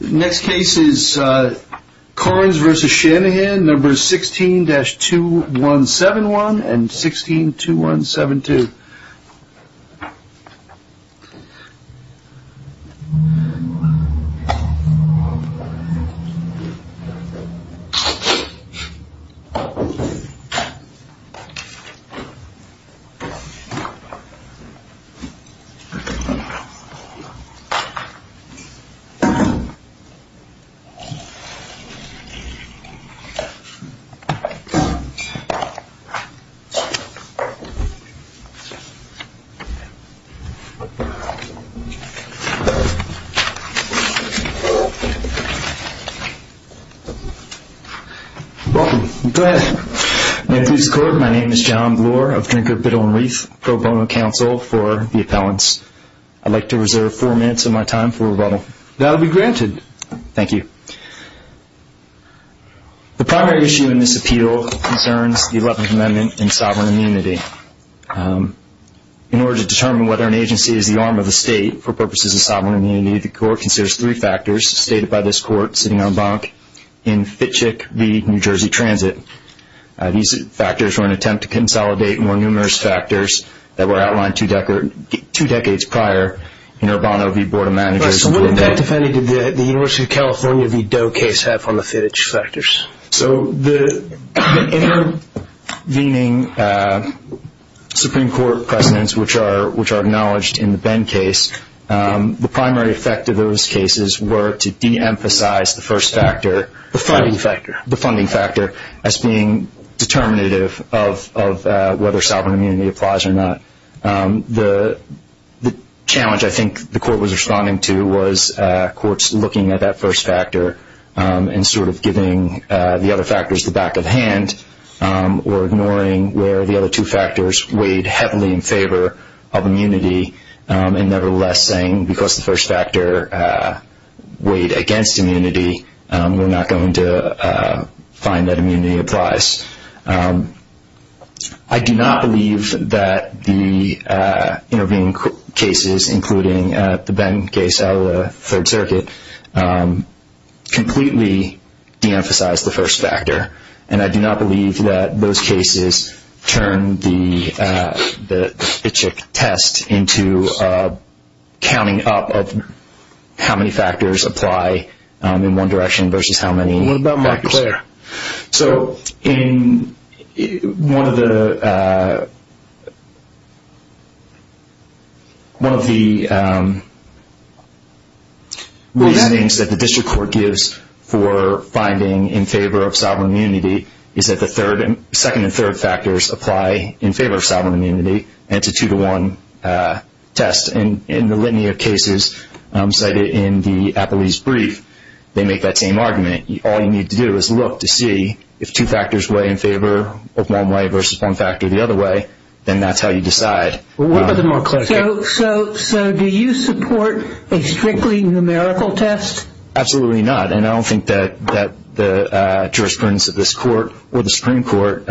Next case is Karns v. Shanahan, numbers 16-2171 and 16-2172. My name is John Blore of Drinker, Biddle & Reef Pro Bono Council for the appellants. I'd like to reserve four minutes of my time for rebuttal. That will be granted. Thank you. The primary issue in this appeal concerns the Eleventh Amendment and sovereign immunity. In order to determine whether an agency is the arm of the state for purposes of sovereign immunity, the Court considers three factors stated by this Court sitting en banc in Fitchick v. New Jersey Transit. These factors were an attempt to consolidate more numerous factors that were outlined two decades prior in Urbano v. So what impact, if any, did the University of California v. Doe case have on the Fitch factors? So the intervening Supreme Court presidents, which are acknowledged in the Benn case, the primary effect of those cases were to de-emphasize the first factor. The funding factor. The funding factor as being determinative of whether sovereign immunity applies or not. The challenge I think the Court was responding to was courts looking at that first factor and sort of giving the other factors the back of the hand or ignoring where the other two factors weighed heavily in favor of immunity and nevertheless saying because the first factor weighed against immunity, we're not going to find that immunity applies. I do not believe that the intervening cases, including the Benn case out of the Third Circuit, completely de-emphasized the first factor. And I do not believe that those cases turned the Fitch test into counting up of how many factors apply in one direction versus how many. What about Mark Clare? So one of the reasonings that the district court gives for finding in favor of sovereign immunity is that the second and third factors apply in favor of sovereign immunity and it's a two-to-one test. In the litany of cases cited in the Appellee's brief, they make that same argument. All you need to do is look to see if two factors weigh in favor of one way versus one factor the other way, then that's how you decide. What about the Mark Clare case? So do you support a strictly numerical test? Absolutely not. And I don't think that the jurisprudence of this Court or the Supreme Court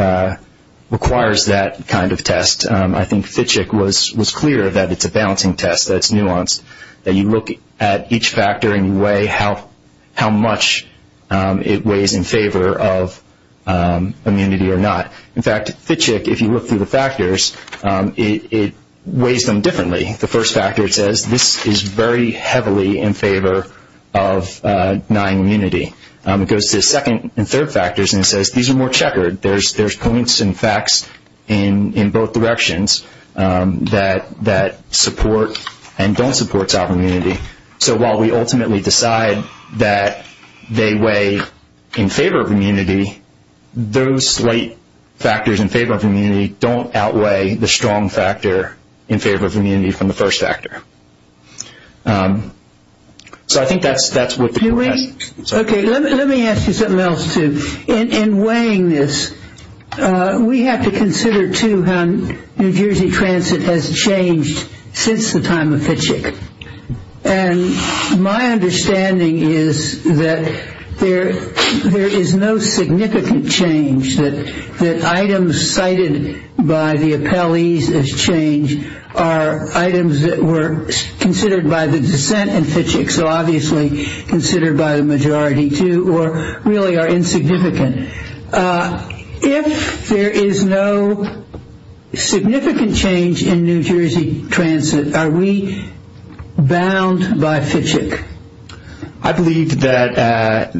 requires that kind of test. I think Fitchek was clear that it's a balancing test, that it's nuanced, that you look at each factor and you weigh how much it weighs in favor of immunity or not. In fact, Fitchek, if you look through the factors, it weighs them differently. The first factor says this is very heavily in favor of denying immunity. It goes to the second and third factors and it says these are more checkered. There's points and facts in both directions that support and don't support top immunity. So while we ultimately decide that they weigh in favor of immunity, those slight factors in favor of immunity don't outweigh the strong factor in favor of immunity from the first factor. So I think that's what the court has. Let me ask you something else, too. In weighing this, we have to consider, too, how New Jersey transit has changed since the time of Fitchek. And my understanding is that there is no significant change, that items cited by the appellees as change are items that were considered by the dissent in Fitchek, so obviously considered by the majority, too, or really are insignificant. If there is no significant change in New Jersey transit, are we bound by Fitchek? I believe that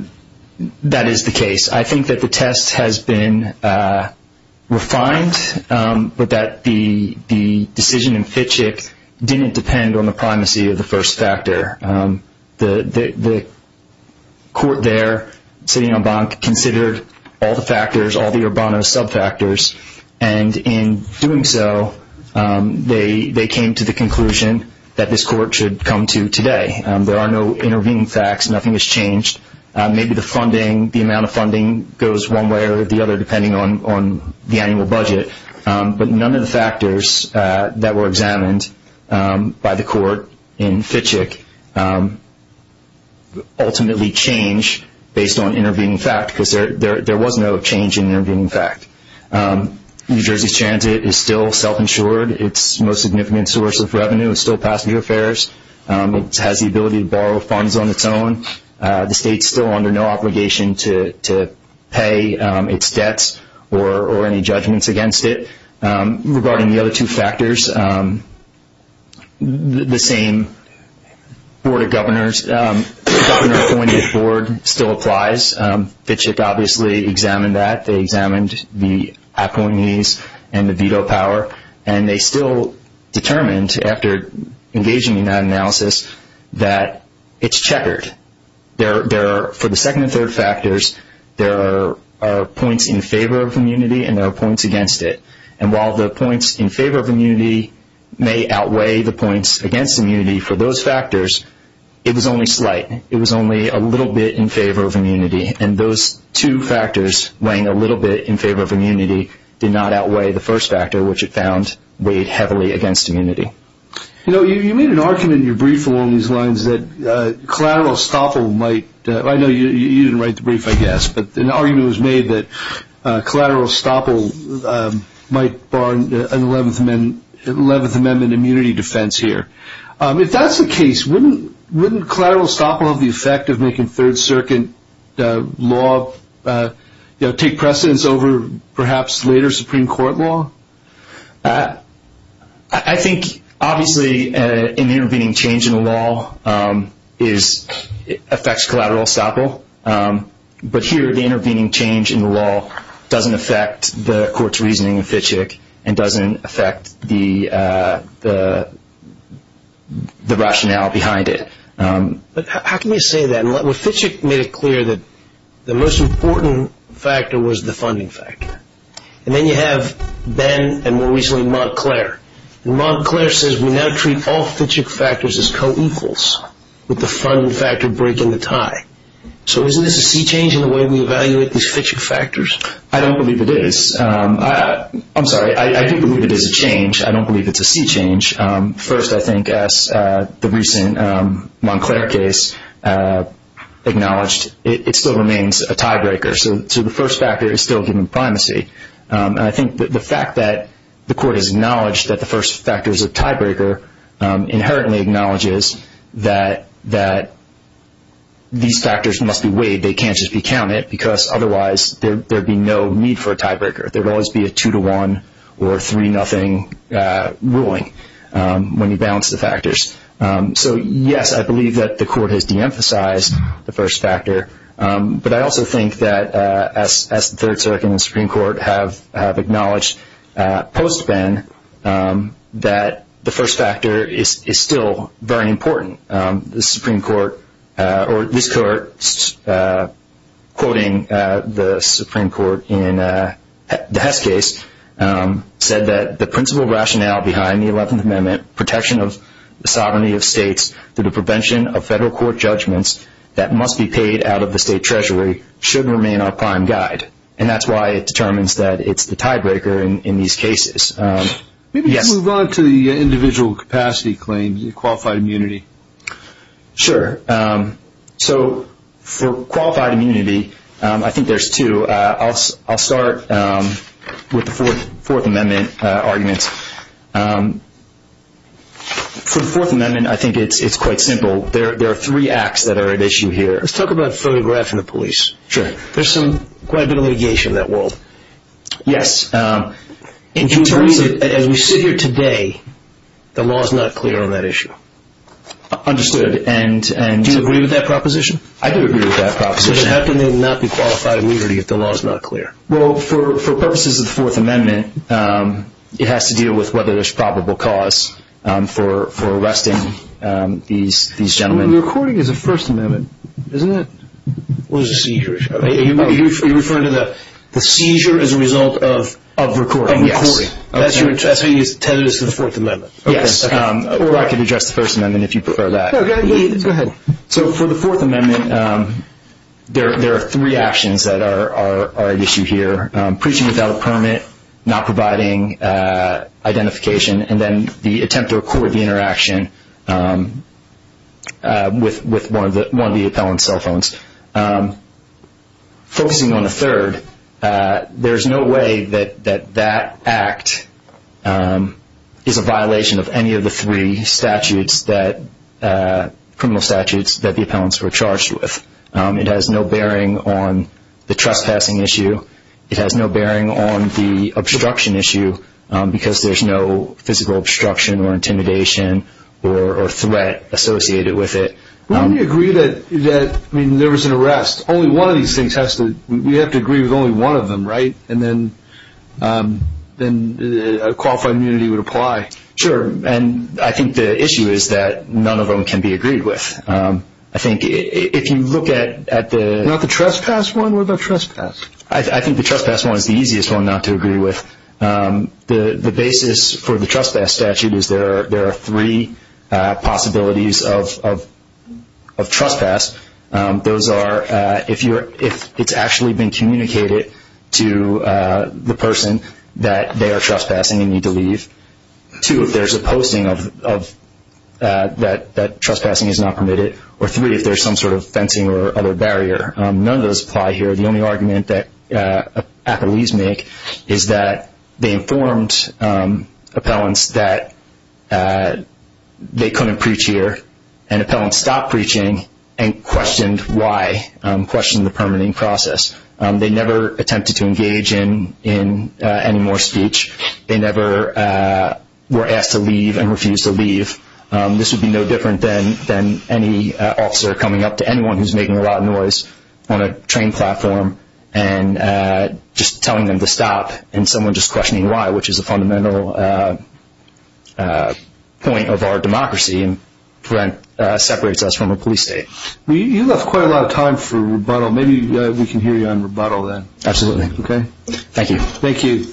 that is the case. I think that the test has been refined, but that the decision in Fitchek didn't depend on the primacy of the first factor. The court there, sitting en banc, considered all the factors, all the Urbano sub-factors, and in doing so they came to the conclusion that this court should come to today. There are no intervening facts. Nothing has changed. Maybe the amount of funding goes one way or the other, depending on the annual budget, but none of the factors that were examined by the court in Fitchek ultimately change based on intervening fact, because there was no change in intervening fact. New Jersey transit is still self-insured. Its most significant source of revenue is still passenger fares. It has the ability to borrow funds on its own. The state is still under no obligation to pay its debts or any judgments against it. Regarding the other two factors, the same board of governors, governor-appointed board, still applies. Fitchek obviously examined that. They examined the appointees and the veto power, and they still determined after engaging in that analysis that it's checkered. For the second and third factors, there are points in favor of immunity and there are points against it, and while the points in favor of immunity may outweigh the points against immunity for those factors, it was only slight. It was only a little bit in favor of immunity, and those two factors weighing a little bit in favor of immunity did not outweigh the first factor, which it found weighed heavily against immunity. You made an argument in your brief along these lines that collateral estoppel might – I know you didn't write the brief, I guess, but an argument was made that collateral estoppel might bar an 11th Amendment immunity defense here. If that's the case, wouldn't collateral estoppel have the effect of making Third Circuit law take precedence over perhaps later Supreme Court law? I think obviously an intervening change in the law affects collateral estoppel, but here the intervening change in the law doesn't affect the court's reasoning in Fitchek and doesn't affect the rationale behind it. But how can you say that? Fitchek made it clear that the most important factor was the funding factor, and then you have Ben and more recently Montclair. Montclair says we now treat all Fitchek factors as co-equals with the funding factor breaking the tie. So isn't this a sea change in the way we evaluate these Fitchek factors? I don't believe it is. I'm sorry, I do believe it is a change. I don't believe it's a sea change. First, I think as the recent Montclair case acknowledged, it still remains a tiebreaker. So the first factor is still given primacy. I think the fact that the court has acknowledged that the first factor is a tiebreaker inherently acknowledges that these factors must be weighed. They can't just be counted because otherwise there would be no need for a tiebreaker. There would always be a 2-1 or 3-0 ruling when you balance the factors. So, yes, I believe that the court has de-emphasized the first factor, but I also think that as the Third Circuit and the Supreme Court have acknowledged post-Ben that the first factor is still very important. This court, quoting the Supreme Court in the Hess case, said that the principal rationale behind the 11th Amendment, protection of the sovereignty of states through the prevention of federal court judgments that must be paid out of the state treasury, should remain our prime guide. And that's why it determines that it's the tiebreaker in these cases. Maybe let's move on to the individual capacity claims and qualified immunity. Sure. So for qualified immunity, I think there's two. I'll start with the Fourth Amendment arguments. For the Fourth Amendment, I think it's quite simple. There are three acts that are at issue here. Let's talk about photographing the police. Sure. There's quite a bit of litigation in that world. Yes. As we sit here today, the law is not clear on that issue. Understood. Do you agree with that proposition? I do agree with that proposition. Then how can they not be qualified immunity if the law is not clear? Well, for purposes of the Fourth Amendment, it has to deal with whether there's probable cause for arresting these gentlemen. The recording is a First Amendment, isn't it? It was a seizure. You're referring to the seizure as a result of recording. Yes. That's what you intended as the Fourth Amendment. Yes. Or I could address the First Amendment if you prefer that. Go ahead. So for the Fourth Amendment, there are three actions that are at issue here. Preaching without a permit, not providing identification, and then the attempt to record the interaction with one of the appellant's cell phones. Focusing on the third, there's no way that that act is a violation of any of the three criminal statutes that the appellants were charged with. It has no bearing on the trespassing issue. It has no bearing on the obstruction issue because there's no physical obstruction or intimidation or threat associated with it. Wouldn't you agree that there was an arrest? We have to agree with only one of them, right? And then qualified immunity would apply. Sure. And I think the issue is that none of them can be agreed with. I think if you look at the… Not the trespass one or the trespass? I think the trespass one is the easiest one not to agree with. The basis for the trespass statute is there are three possibilities of trespass. Those are if it's actually been communicated to the person that they are trespassing and need to leave. Two, if there's a posting that trespassing is not permitted. Or three, if there's some sort of fencing or other barrier. None of those apply here. The only argument that appellees make is that they informed appellants that they couldn't preach here, and appellants stopped preaching and questioned why, questioned the permitting process. They never attempted to engage in any more speech. They never were asked to leave and refused to leave. This would be no different than any officer coming up to anyone who's making a lot of noise on a train platform and just telling them to stop and someone just questioning why, which is a fundamental point of our democracy and separates us from a police state. You left quite a lot of time for rebuttal. Maybe we can hear you on rebuttal then. Absolutely. Okay. Thank you. Thank you.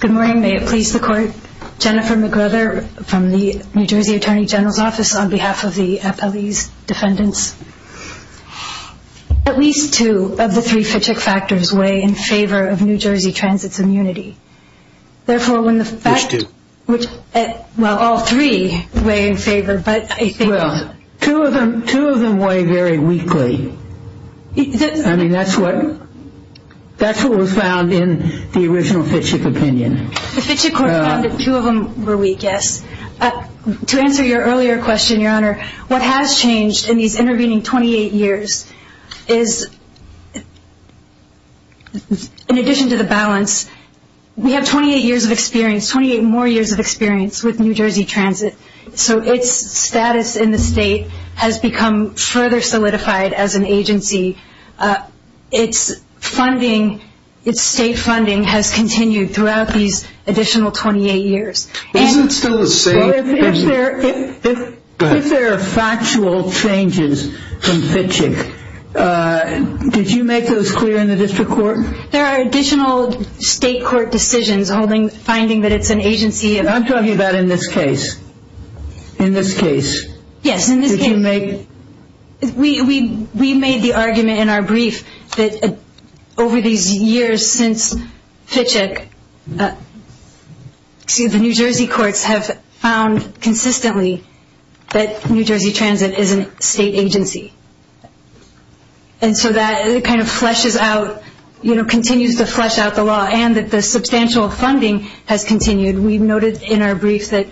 Good morning. May it please the Court. Jennifer McWhirter from the New Jersey Attorney General's Office on behalf of the appellee's defendants. At least two of the three Fitchick factors weigh in favor of New Jersey Transit's immunity. Therefore, when the fact... There's two. Well, all three weigh in favor, but I think... Well, two of them weigh very weakly. I mean, that's what was found in the original Fitchick opinion. The Fitchick Court found that two of them were weak, yes. To answer your earlier question, Your Honor, what has changed in these intervening 28 years is, in addition to the balance, we have 28 years of experience, 28 more years of experience with New Jersey Transit. So its status in the state has become further solidified as an agency. Its state funding has continued throughout these additional 28 years. Isn't it still the same? If there are factual changes from Fitchick, did you make those clear in the district court? There are additional state court decisions finding that it's an agency of... I'm talking about in this case. In this case. Yes, in this case. Did you make... We made the argument in our brief that over these years since Fitchick, the New Jersey courts have found consistently that New Jersey Transit is a state agency. And so that kind of flushes out, you know, continues to flush out the law, and that the substantial funding has continued. We noted in our brief that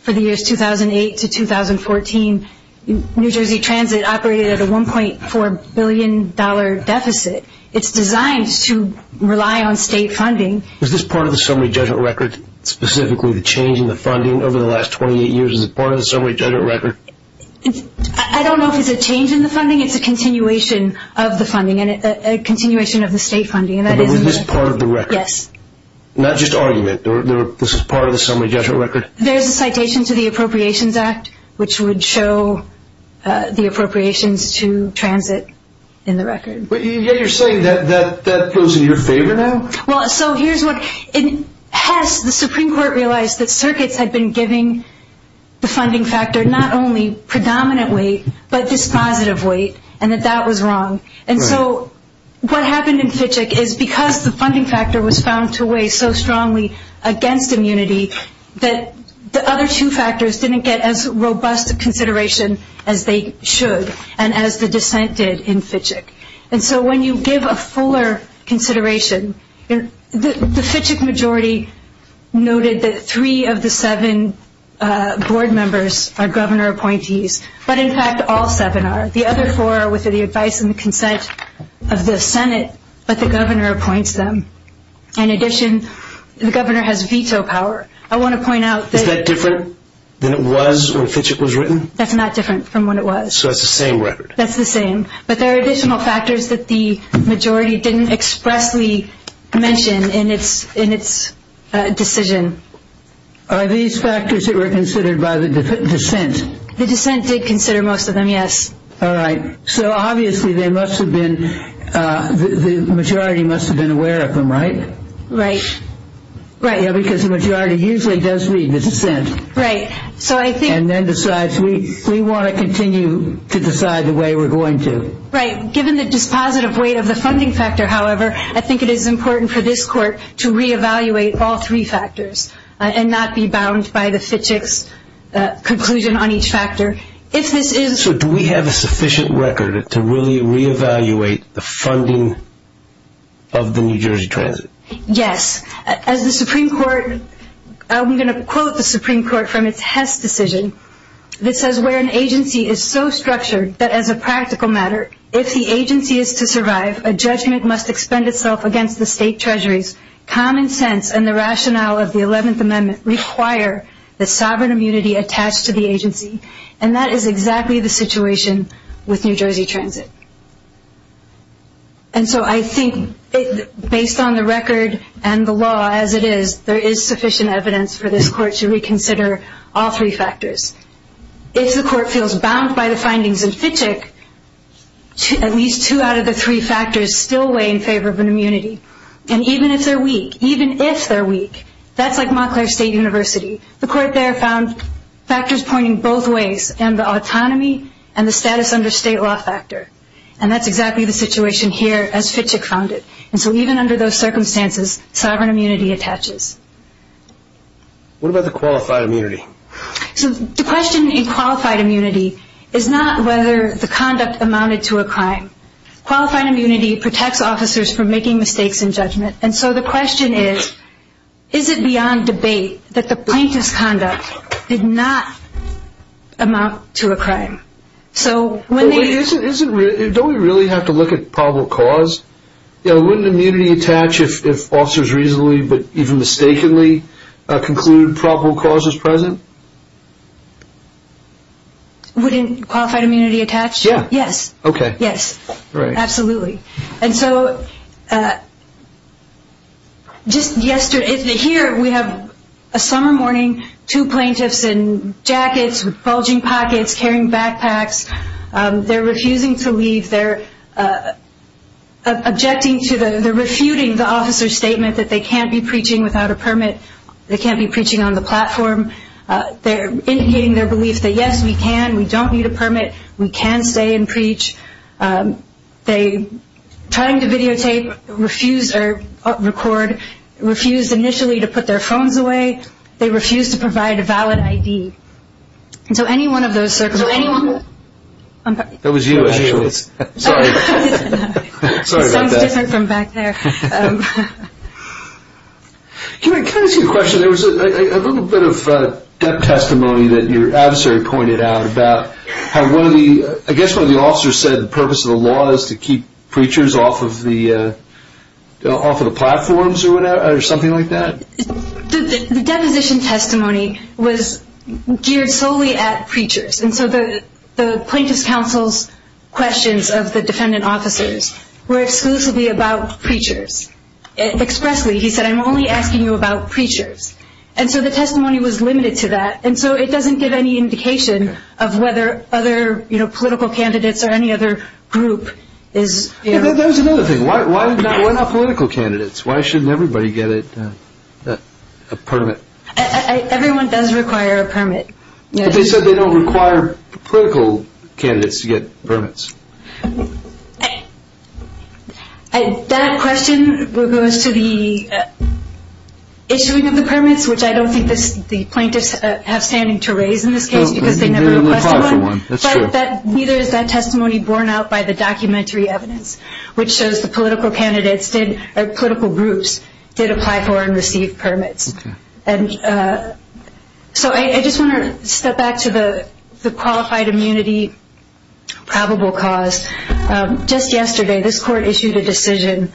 for the years 2008 to 2014, New Jersey Transit operated at a $1.4 billion deficit. It's designed to rely on state funding. Is this part of the summary judgment record, specifically the change in the funding over the last 28 years? Is it part of the summary judgment record? I don't know if it's a change in the funding. It's a continuation of the funding, a continuation of the state funding. But was this part of the record? Yes. Not just argument. This is part of the summary judgment record? There's a citation to the Appropriations Act, which would show the appropriations to Transit in the record. But you're saying that that goes in your favor now? Well, so here's what... In Hess, the Supreme Court realized that circuits had been giving the funding factor not only predominant weight, but dispositive weight, and that that was wrong. And so what happened in Fitcheck is because the funding factor was found to weigh so strongly against immunity that the other two factors didn't get as robust a consideration as they should and as the dissent did in Fitcheck. And so when you give a fuller consideration, the Fitcheck majority noted that three of the seven board members are governor appointees, but, in fact, all seven are. The other four are within the advice and the consent of the Senate, but the governor appoints them. In addition, the governor has veto power. I want to point out that... Is that different than it was when Fitcheck was written? That's not different from when it was. So that's the same record? That's the same. But there are additional factors that the majority didn't expressly mention in its decision. Are these factors that were considered by the dissent? The dissent did consider most of them, yes. All right. So, obviously, the majority must have been aware of them, right? Right. Yeah, because the majority usually does read the dissent. Right. And then decides, we want to continue to decide the way we're going to. Right. Given the dispositive weight of the funding factor, however, I think it is important for this court to reevaluate all three factors and not be bound by the Fitcheck's conclusion on each factor. If this is... So do we have a sufficient record to really reevaluate the funding of the New Jersey Transit? Yes. As the Supreme Court, I'm going to quote the Supreme Court from its Hess decision. This says, where an agency is so structured that as a practical matter, if the agency is to survive, a judgment must expend itself against the state treasuries. Common sense and the rationale of the 11th Amendment require the sovereign immunity attached to the agency. And that is exactly the situation with New Jersey Transit. And so I think, based on the record and the law as it is, there is sufficient evidence for this court to reconsider all three factors. If the court feels bound by the findings in Fitcheck, at least two out of the three factors still weigh in favor of an immunity. And even if they're weak, even if they're weak, that's like Montclair State University. The court there found factors pointing both ways, and the autonomy and the status under state law factor. And that's exactly the situation here as Fitcheck found it. And so even under those circumstances, sovereign immunity attaches. What about the qualified immunity? So the question in qualified immunity is not whether the conduct amounted to a crime. Qualified immunity protects officers from making mistakes in judgment. And so the question is, is it beyond debate that the plaintiff's conduct did not amount to a crime? Don't we really have to look at probable cause? Wouldn't immunity attach if officers reasonably, but even mistakenly, conclude probable cause is present? Wouldn't qualified immunity attach? Yeah. Yes. Okay. Yes. Right. Absolutely. And so just yesterday, here we have a summer morning, two plaintiffs in jackets, with bulging pockets, carrying backpacks. They're refusing to leave. They're objecting to the, they're refuting the officer's statement that they can't be preaching without a permit. They can't be preaching on the platform. They're indicating their belief that, yes, we can. We don't need a permit. We can stay and preach. They, trying to videotape, refused, or record, refused initially to put their phones away. They refused to provide a valid ID. And so any one of those circumstances. That was you, actually. Sorry. Sounds different from back there. Can I ask you a question? There was a little bit of debt testimony that your adversary pointed out about how one of the, I guess one of the officers said the purpose of the law is to keep preachers off of the platforms or something like that. The deposition testimony was geared solely at preachers. And so the plaintiff's counsel's questions of the defendant officers were exclusively about preachers. Expressly, he said, I'm only asking you about preachers. And so the testimony was limited to that. And so it doesn't give any indication of whether other political candidates or any other group is. That was another thing. Why not political candidates? Why shouldn't everybody get a permit? Everyone does require a permit. But they said they don't require political candidates to get permits. That question goes to the issuing of the permits, which I don't think the plaintiffs have standing to raise in this case because they never requested one. But neither is that testimony borne out by the documentary evidence, which shows the political candidates or political groups did apply for and receive permits. So I just want to step back to the qualified immunity probable cause. Just yesterday, this court issued a decision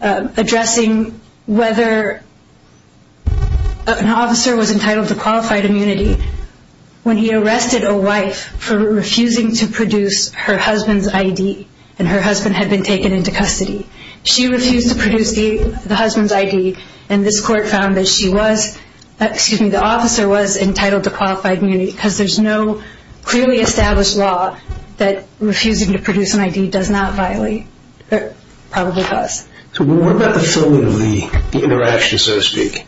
addressing whether an officer was entitled to qualified immunity when he arrested a wife for refusing to produce her husband's I.D. and her husband had been taken into custody. And this court found that she was, excuse me, the officer was entitled to qualified immunity because there's no clearly established law that refusing to produce an I.D. does not violate probable cause. So what about the filming of the interaction, so to speak?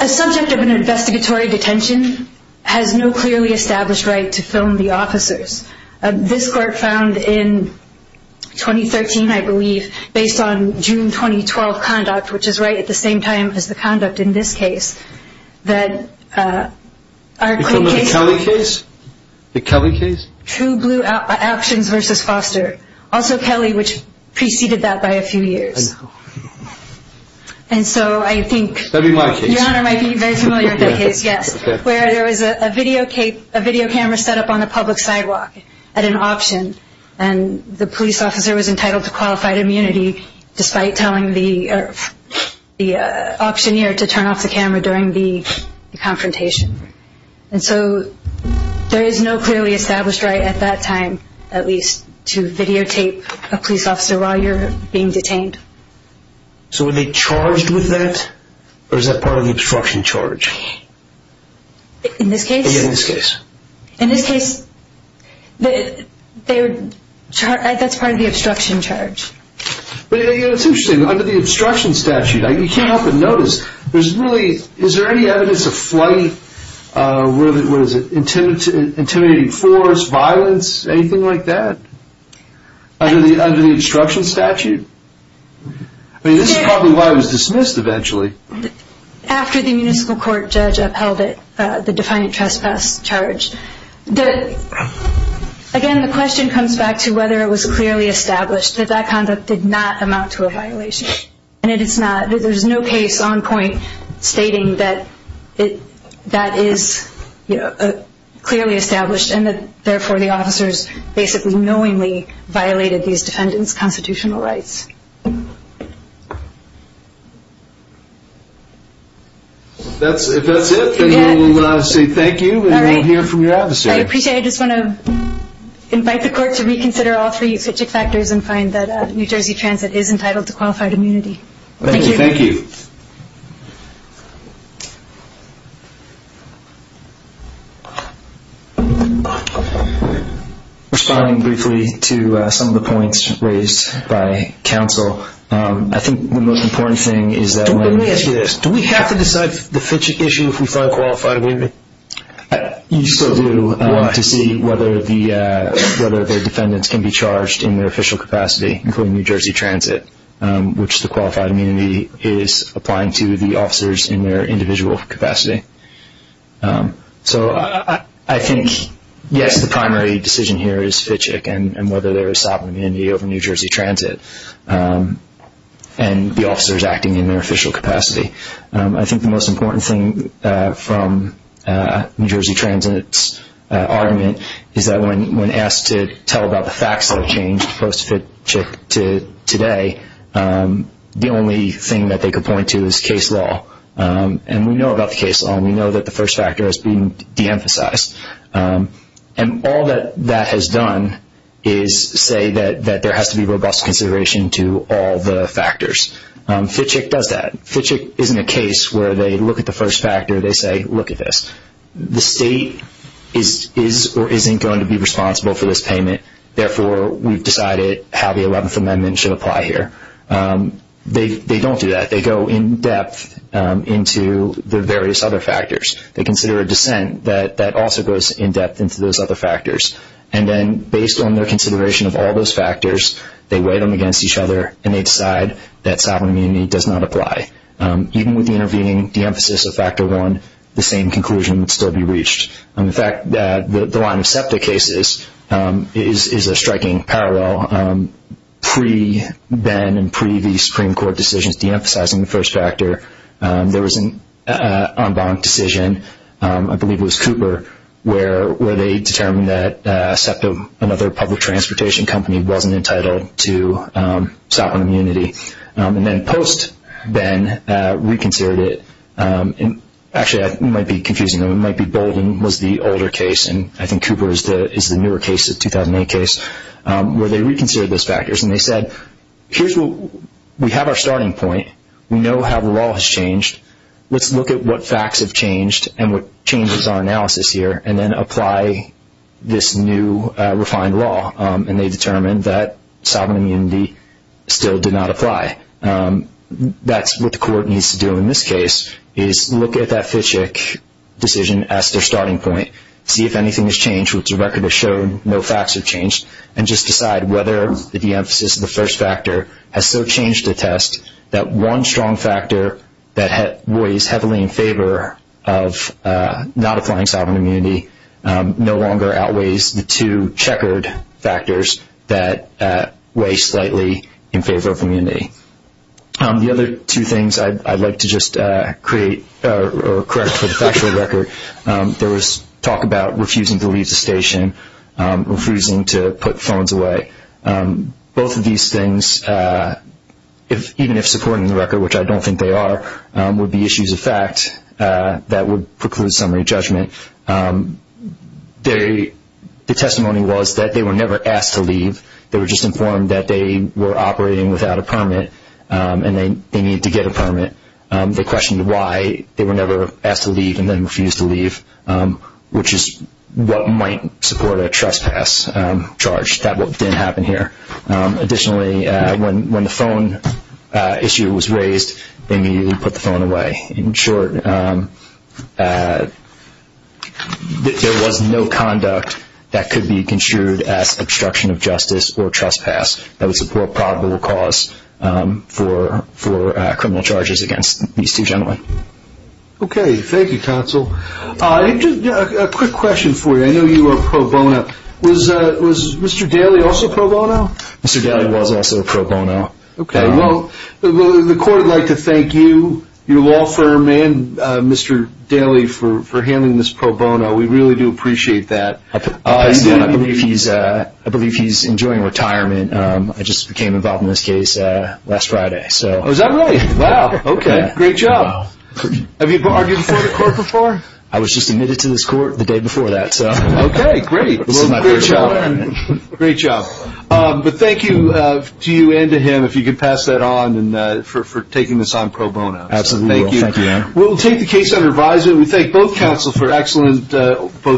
A subject of an investigatory detention has no clearly established right to film the officers. This court found in 2013, I believe, based on June 2012 conduct, which is right at the same time as the conduct in this case, that our court case The Kelly case? True Blue Actions versus Foster. Also Kelly, which preceded that by a few years. And so I think That'd be my case. Your Honor might be very familiar with that case, yes. Where there was a video camera set up on a public sidewalk at an auction and the police officer was entitled to qualified immunity despite telling the auctioneer to turn off the camera during the confrontation. And so there is no clearly established right at that time, at least, to videotape a police officer while you're being detained. So were they charged with that? Or is that part of the obstruction charge? In this case? In this case. In this case, that's part of the obstruction charge. But it's interesting, under the obstruction statute, you can't help but notice, there's really, is there any evidence of flight, what is it, intimidating force, violence, anything like that? Under the obstruction statute? I mean, this is probably why it was dismissed eventually. After the municipal court judge upheld it, the defiant trespass charge. Again, the question comes back to whether it was clearly established that that conduct did not amount to a violation. And it is not. There's no case on point stating that that is clearly established and that, therefore, the officers basically knowingly violated these defendants' constitutional rights. If that's it, then we will say thank you and we'll hear from your advocate. I appreciate it. I just want to invite the court to reconsider all three subject factors and find that New Jersey Transit is entitled to qualified immunity. Thank you. Thank you. Responding briefly to some of the points raised by counsel, I think the most important thing is that when- Let me ask you this. Do we have to decide the Fitch issue if we find qualified immunity? You still do. Why? To see whether their defendants can be charged in their official capacity, including New Jersey Transit, which the qualified immunity is applying to the officers in their individual capacity. So I think, yes, the primary decision here is Fitch, and whether there is sovereign immunity over New Jersey Transit and the officers acting in their official capacity. I think the most important thing from New Jersey Transit's argument is that when asked to tell about the facts that have changed post-Fitchick to today, the only thing that they could point to is case law. And we know about the case law, and we know that the first factor has been deemphasized. And all that that has done is say that there has to be robust consideration to all the factors. Fitchick does that. Fitchick isn't a case where they look at the first factor and they say, look at this. The state is or isn't going to be responsible for this payment. Therefore, we've decided how the 11th Amendment should apply here. They don't do that. They go in-depth into the various other factors. They consider a dissent that also goes in-depth into those other factors. And then based on their consideration of all those factors, they weigh them against each other and they decide that sovereign immunity does not apply. Even with the intervening deemphasis of factor one, the same conclusion would still be reached. The fact that the line of SEPTA cases is a striking parallel. Pre-Ben and pre-the Supreme Court decisions deemphasizing the first factor, there was an en banc decision, I believe it was Cooper, where they determined that SEPTA, another public transportation company, wasn't entitled to sovereign immunity. And then post-Ben reconsidered it. Actually, it might be confusing. It might be Bolden was the older case, and I think Cooper is the newer case, the 2008 case, where they reconsidered those factors. And they said, we have our starting point. We know how the law has changed. Let's look at what facts have changed and what changes our analysis here, and then apply this new refined law. And they determined that sovereign immunity still did not apply. That's what the court needs to do in this case, is look at that Fitchick decision as their starting point, see if anything has changed, which the record has shown no facts have changed, and just decide whether the deemphasis of the first factor has still changed the test, that one strong factor that weighs heavily in favor of not applying sovereign immunity no longer outweighs the two checkered factors that weigh slightly in favor of immunity. The other two things I'd like to just correct for the factual record, there was talk about refusing to leave the station, refusing to put phones away. Both of these things, even if supporting the record, which I don't think they are, would be issues of fact that would preclude summary judgment. The testimony was that they were never asked to leave. They were just informed that they were operating without a permit and they needed to get a permit. They questioned why they were never asked to leave and then refused to leave, which is what might support a trespass charge. That didn't happen here. Additionally, when the phone issue was raised, they immediately put the phone away. In short, there was no conduct that could be construed as obstruction of justice or trespass that would support probable cause for criminal charges against these two gentlemen. Okay. Thank you, counsel. A quick question for you. I know you were pro bono. Was Mr. Daly also pro bono? Mr. Daly was also pro bono. Okay. Well, the court would like to thank you, your law firm, and Mr. Daly for handling this pro bono. We really do appreciate that. I believe he's enjoying retirement. I just became involved in this case last Friday. Oh, is that right? Wow. Okay. Great job. Have you argued before the court before? I was just admitted to this court the day before that. Okay. Great. This is my first trial. Great job. Thank you to you and to him, if you could pass that on, for taking this on pro bono. Absolutely. Thank you. We'll take the case under advisement. We thank both counsel for excellent work.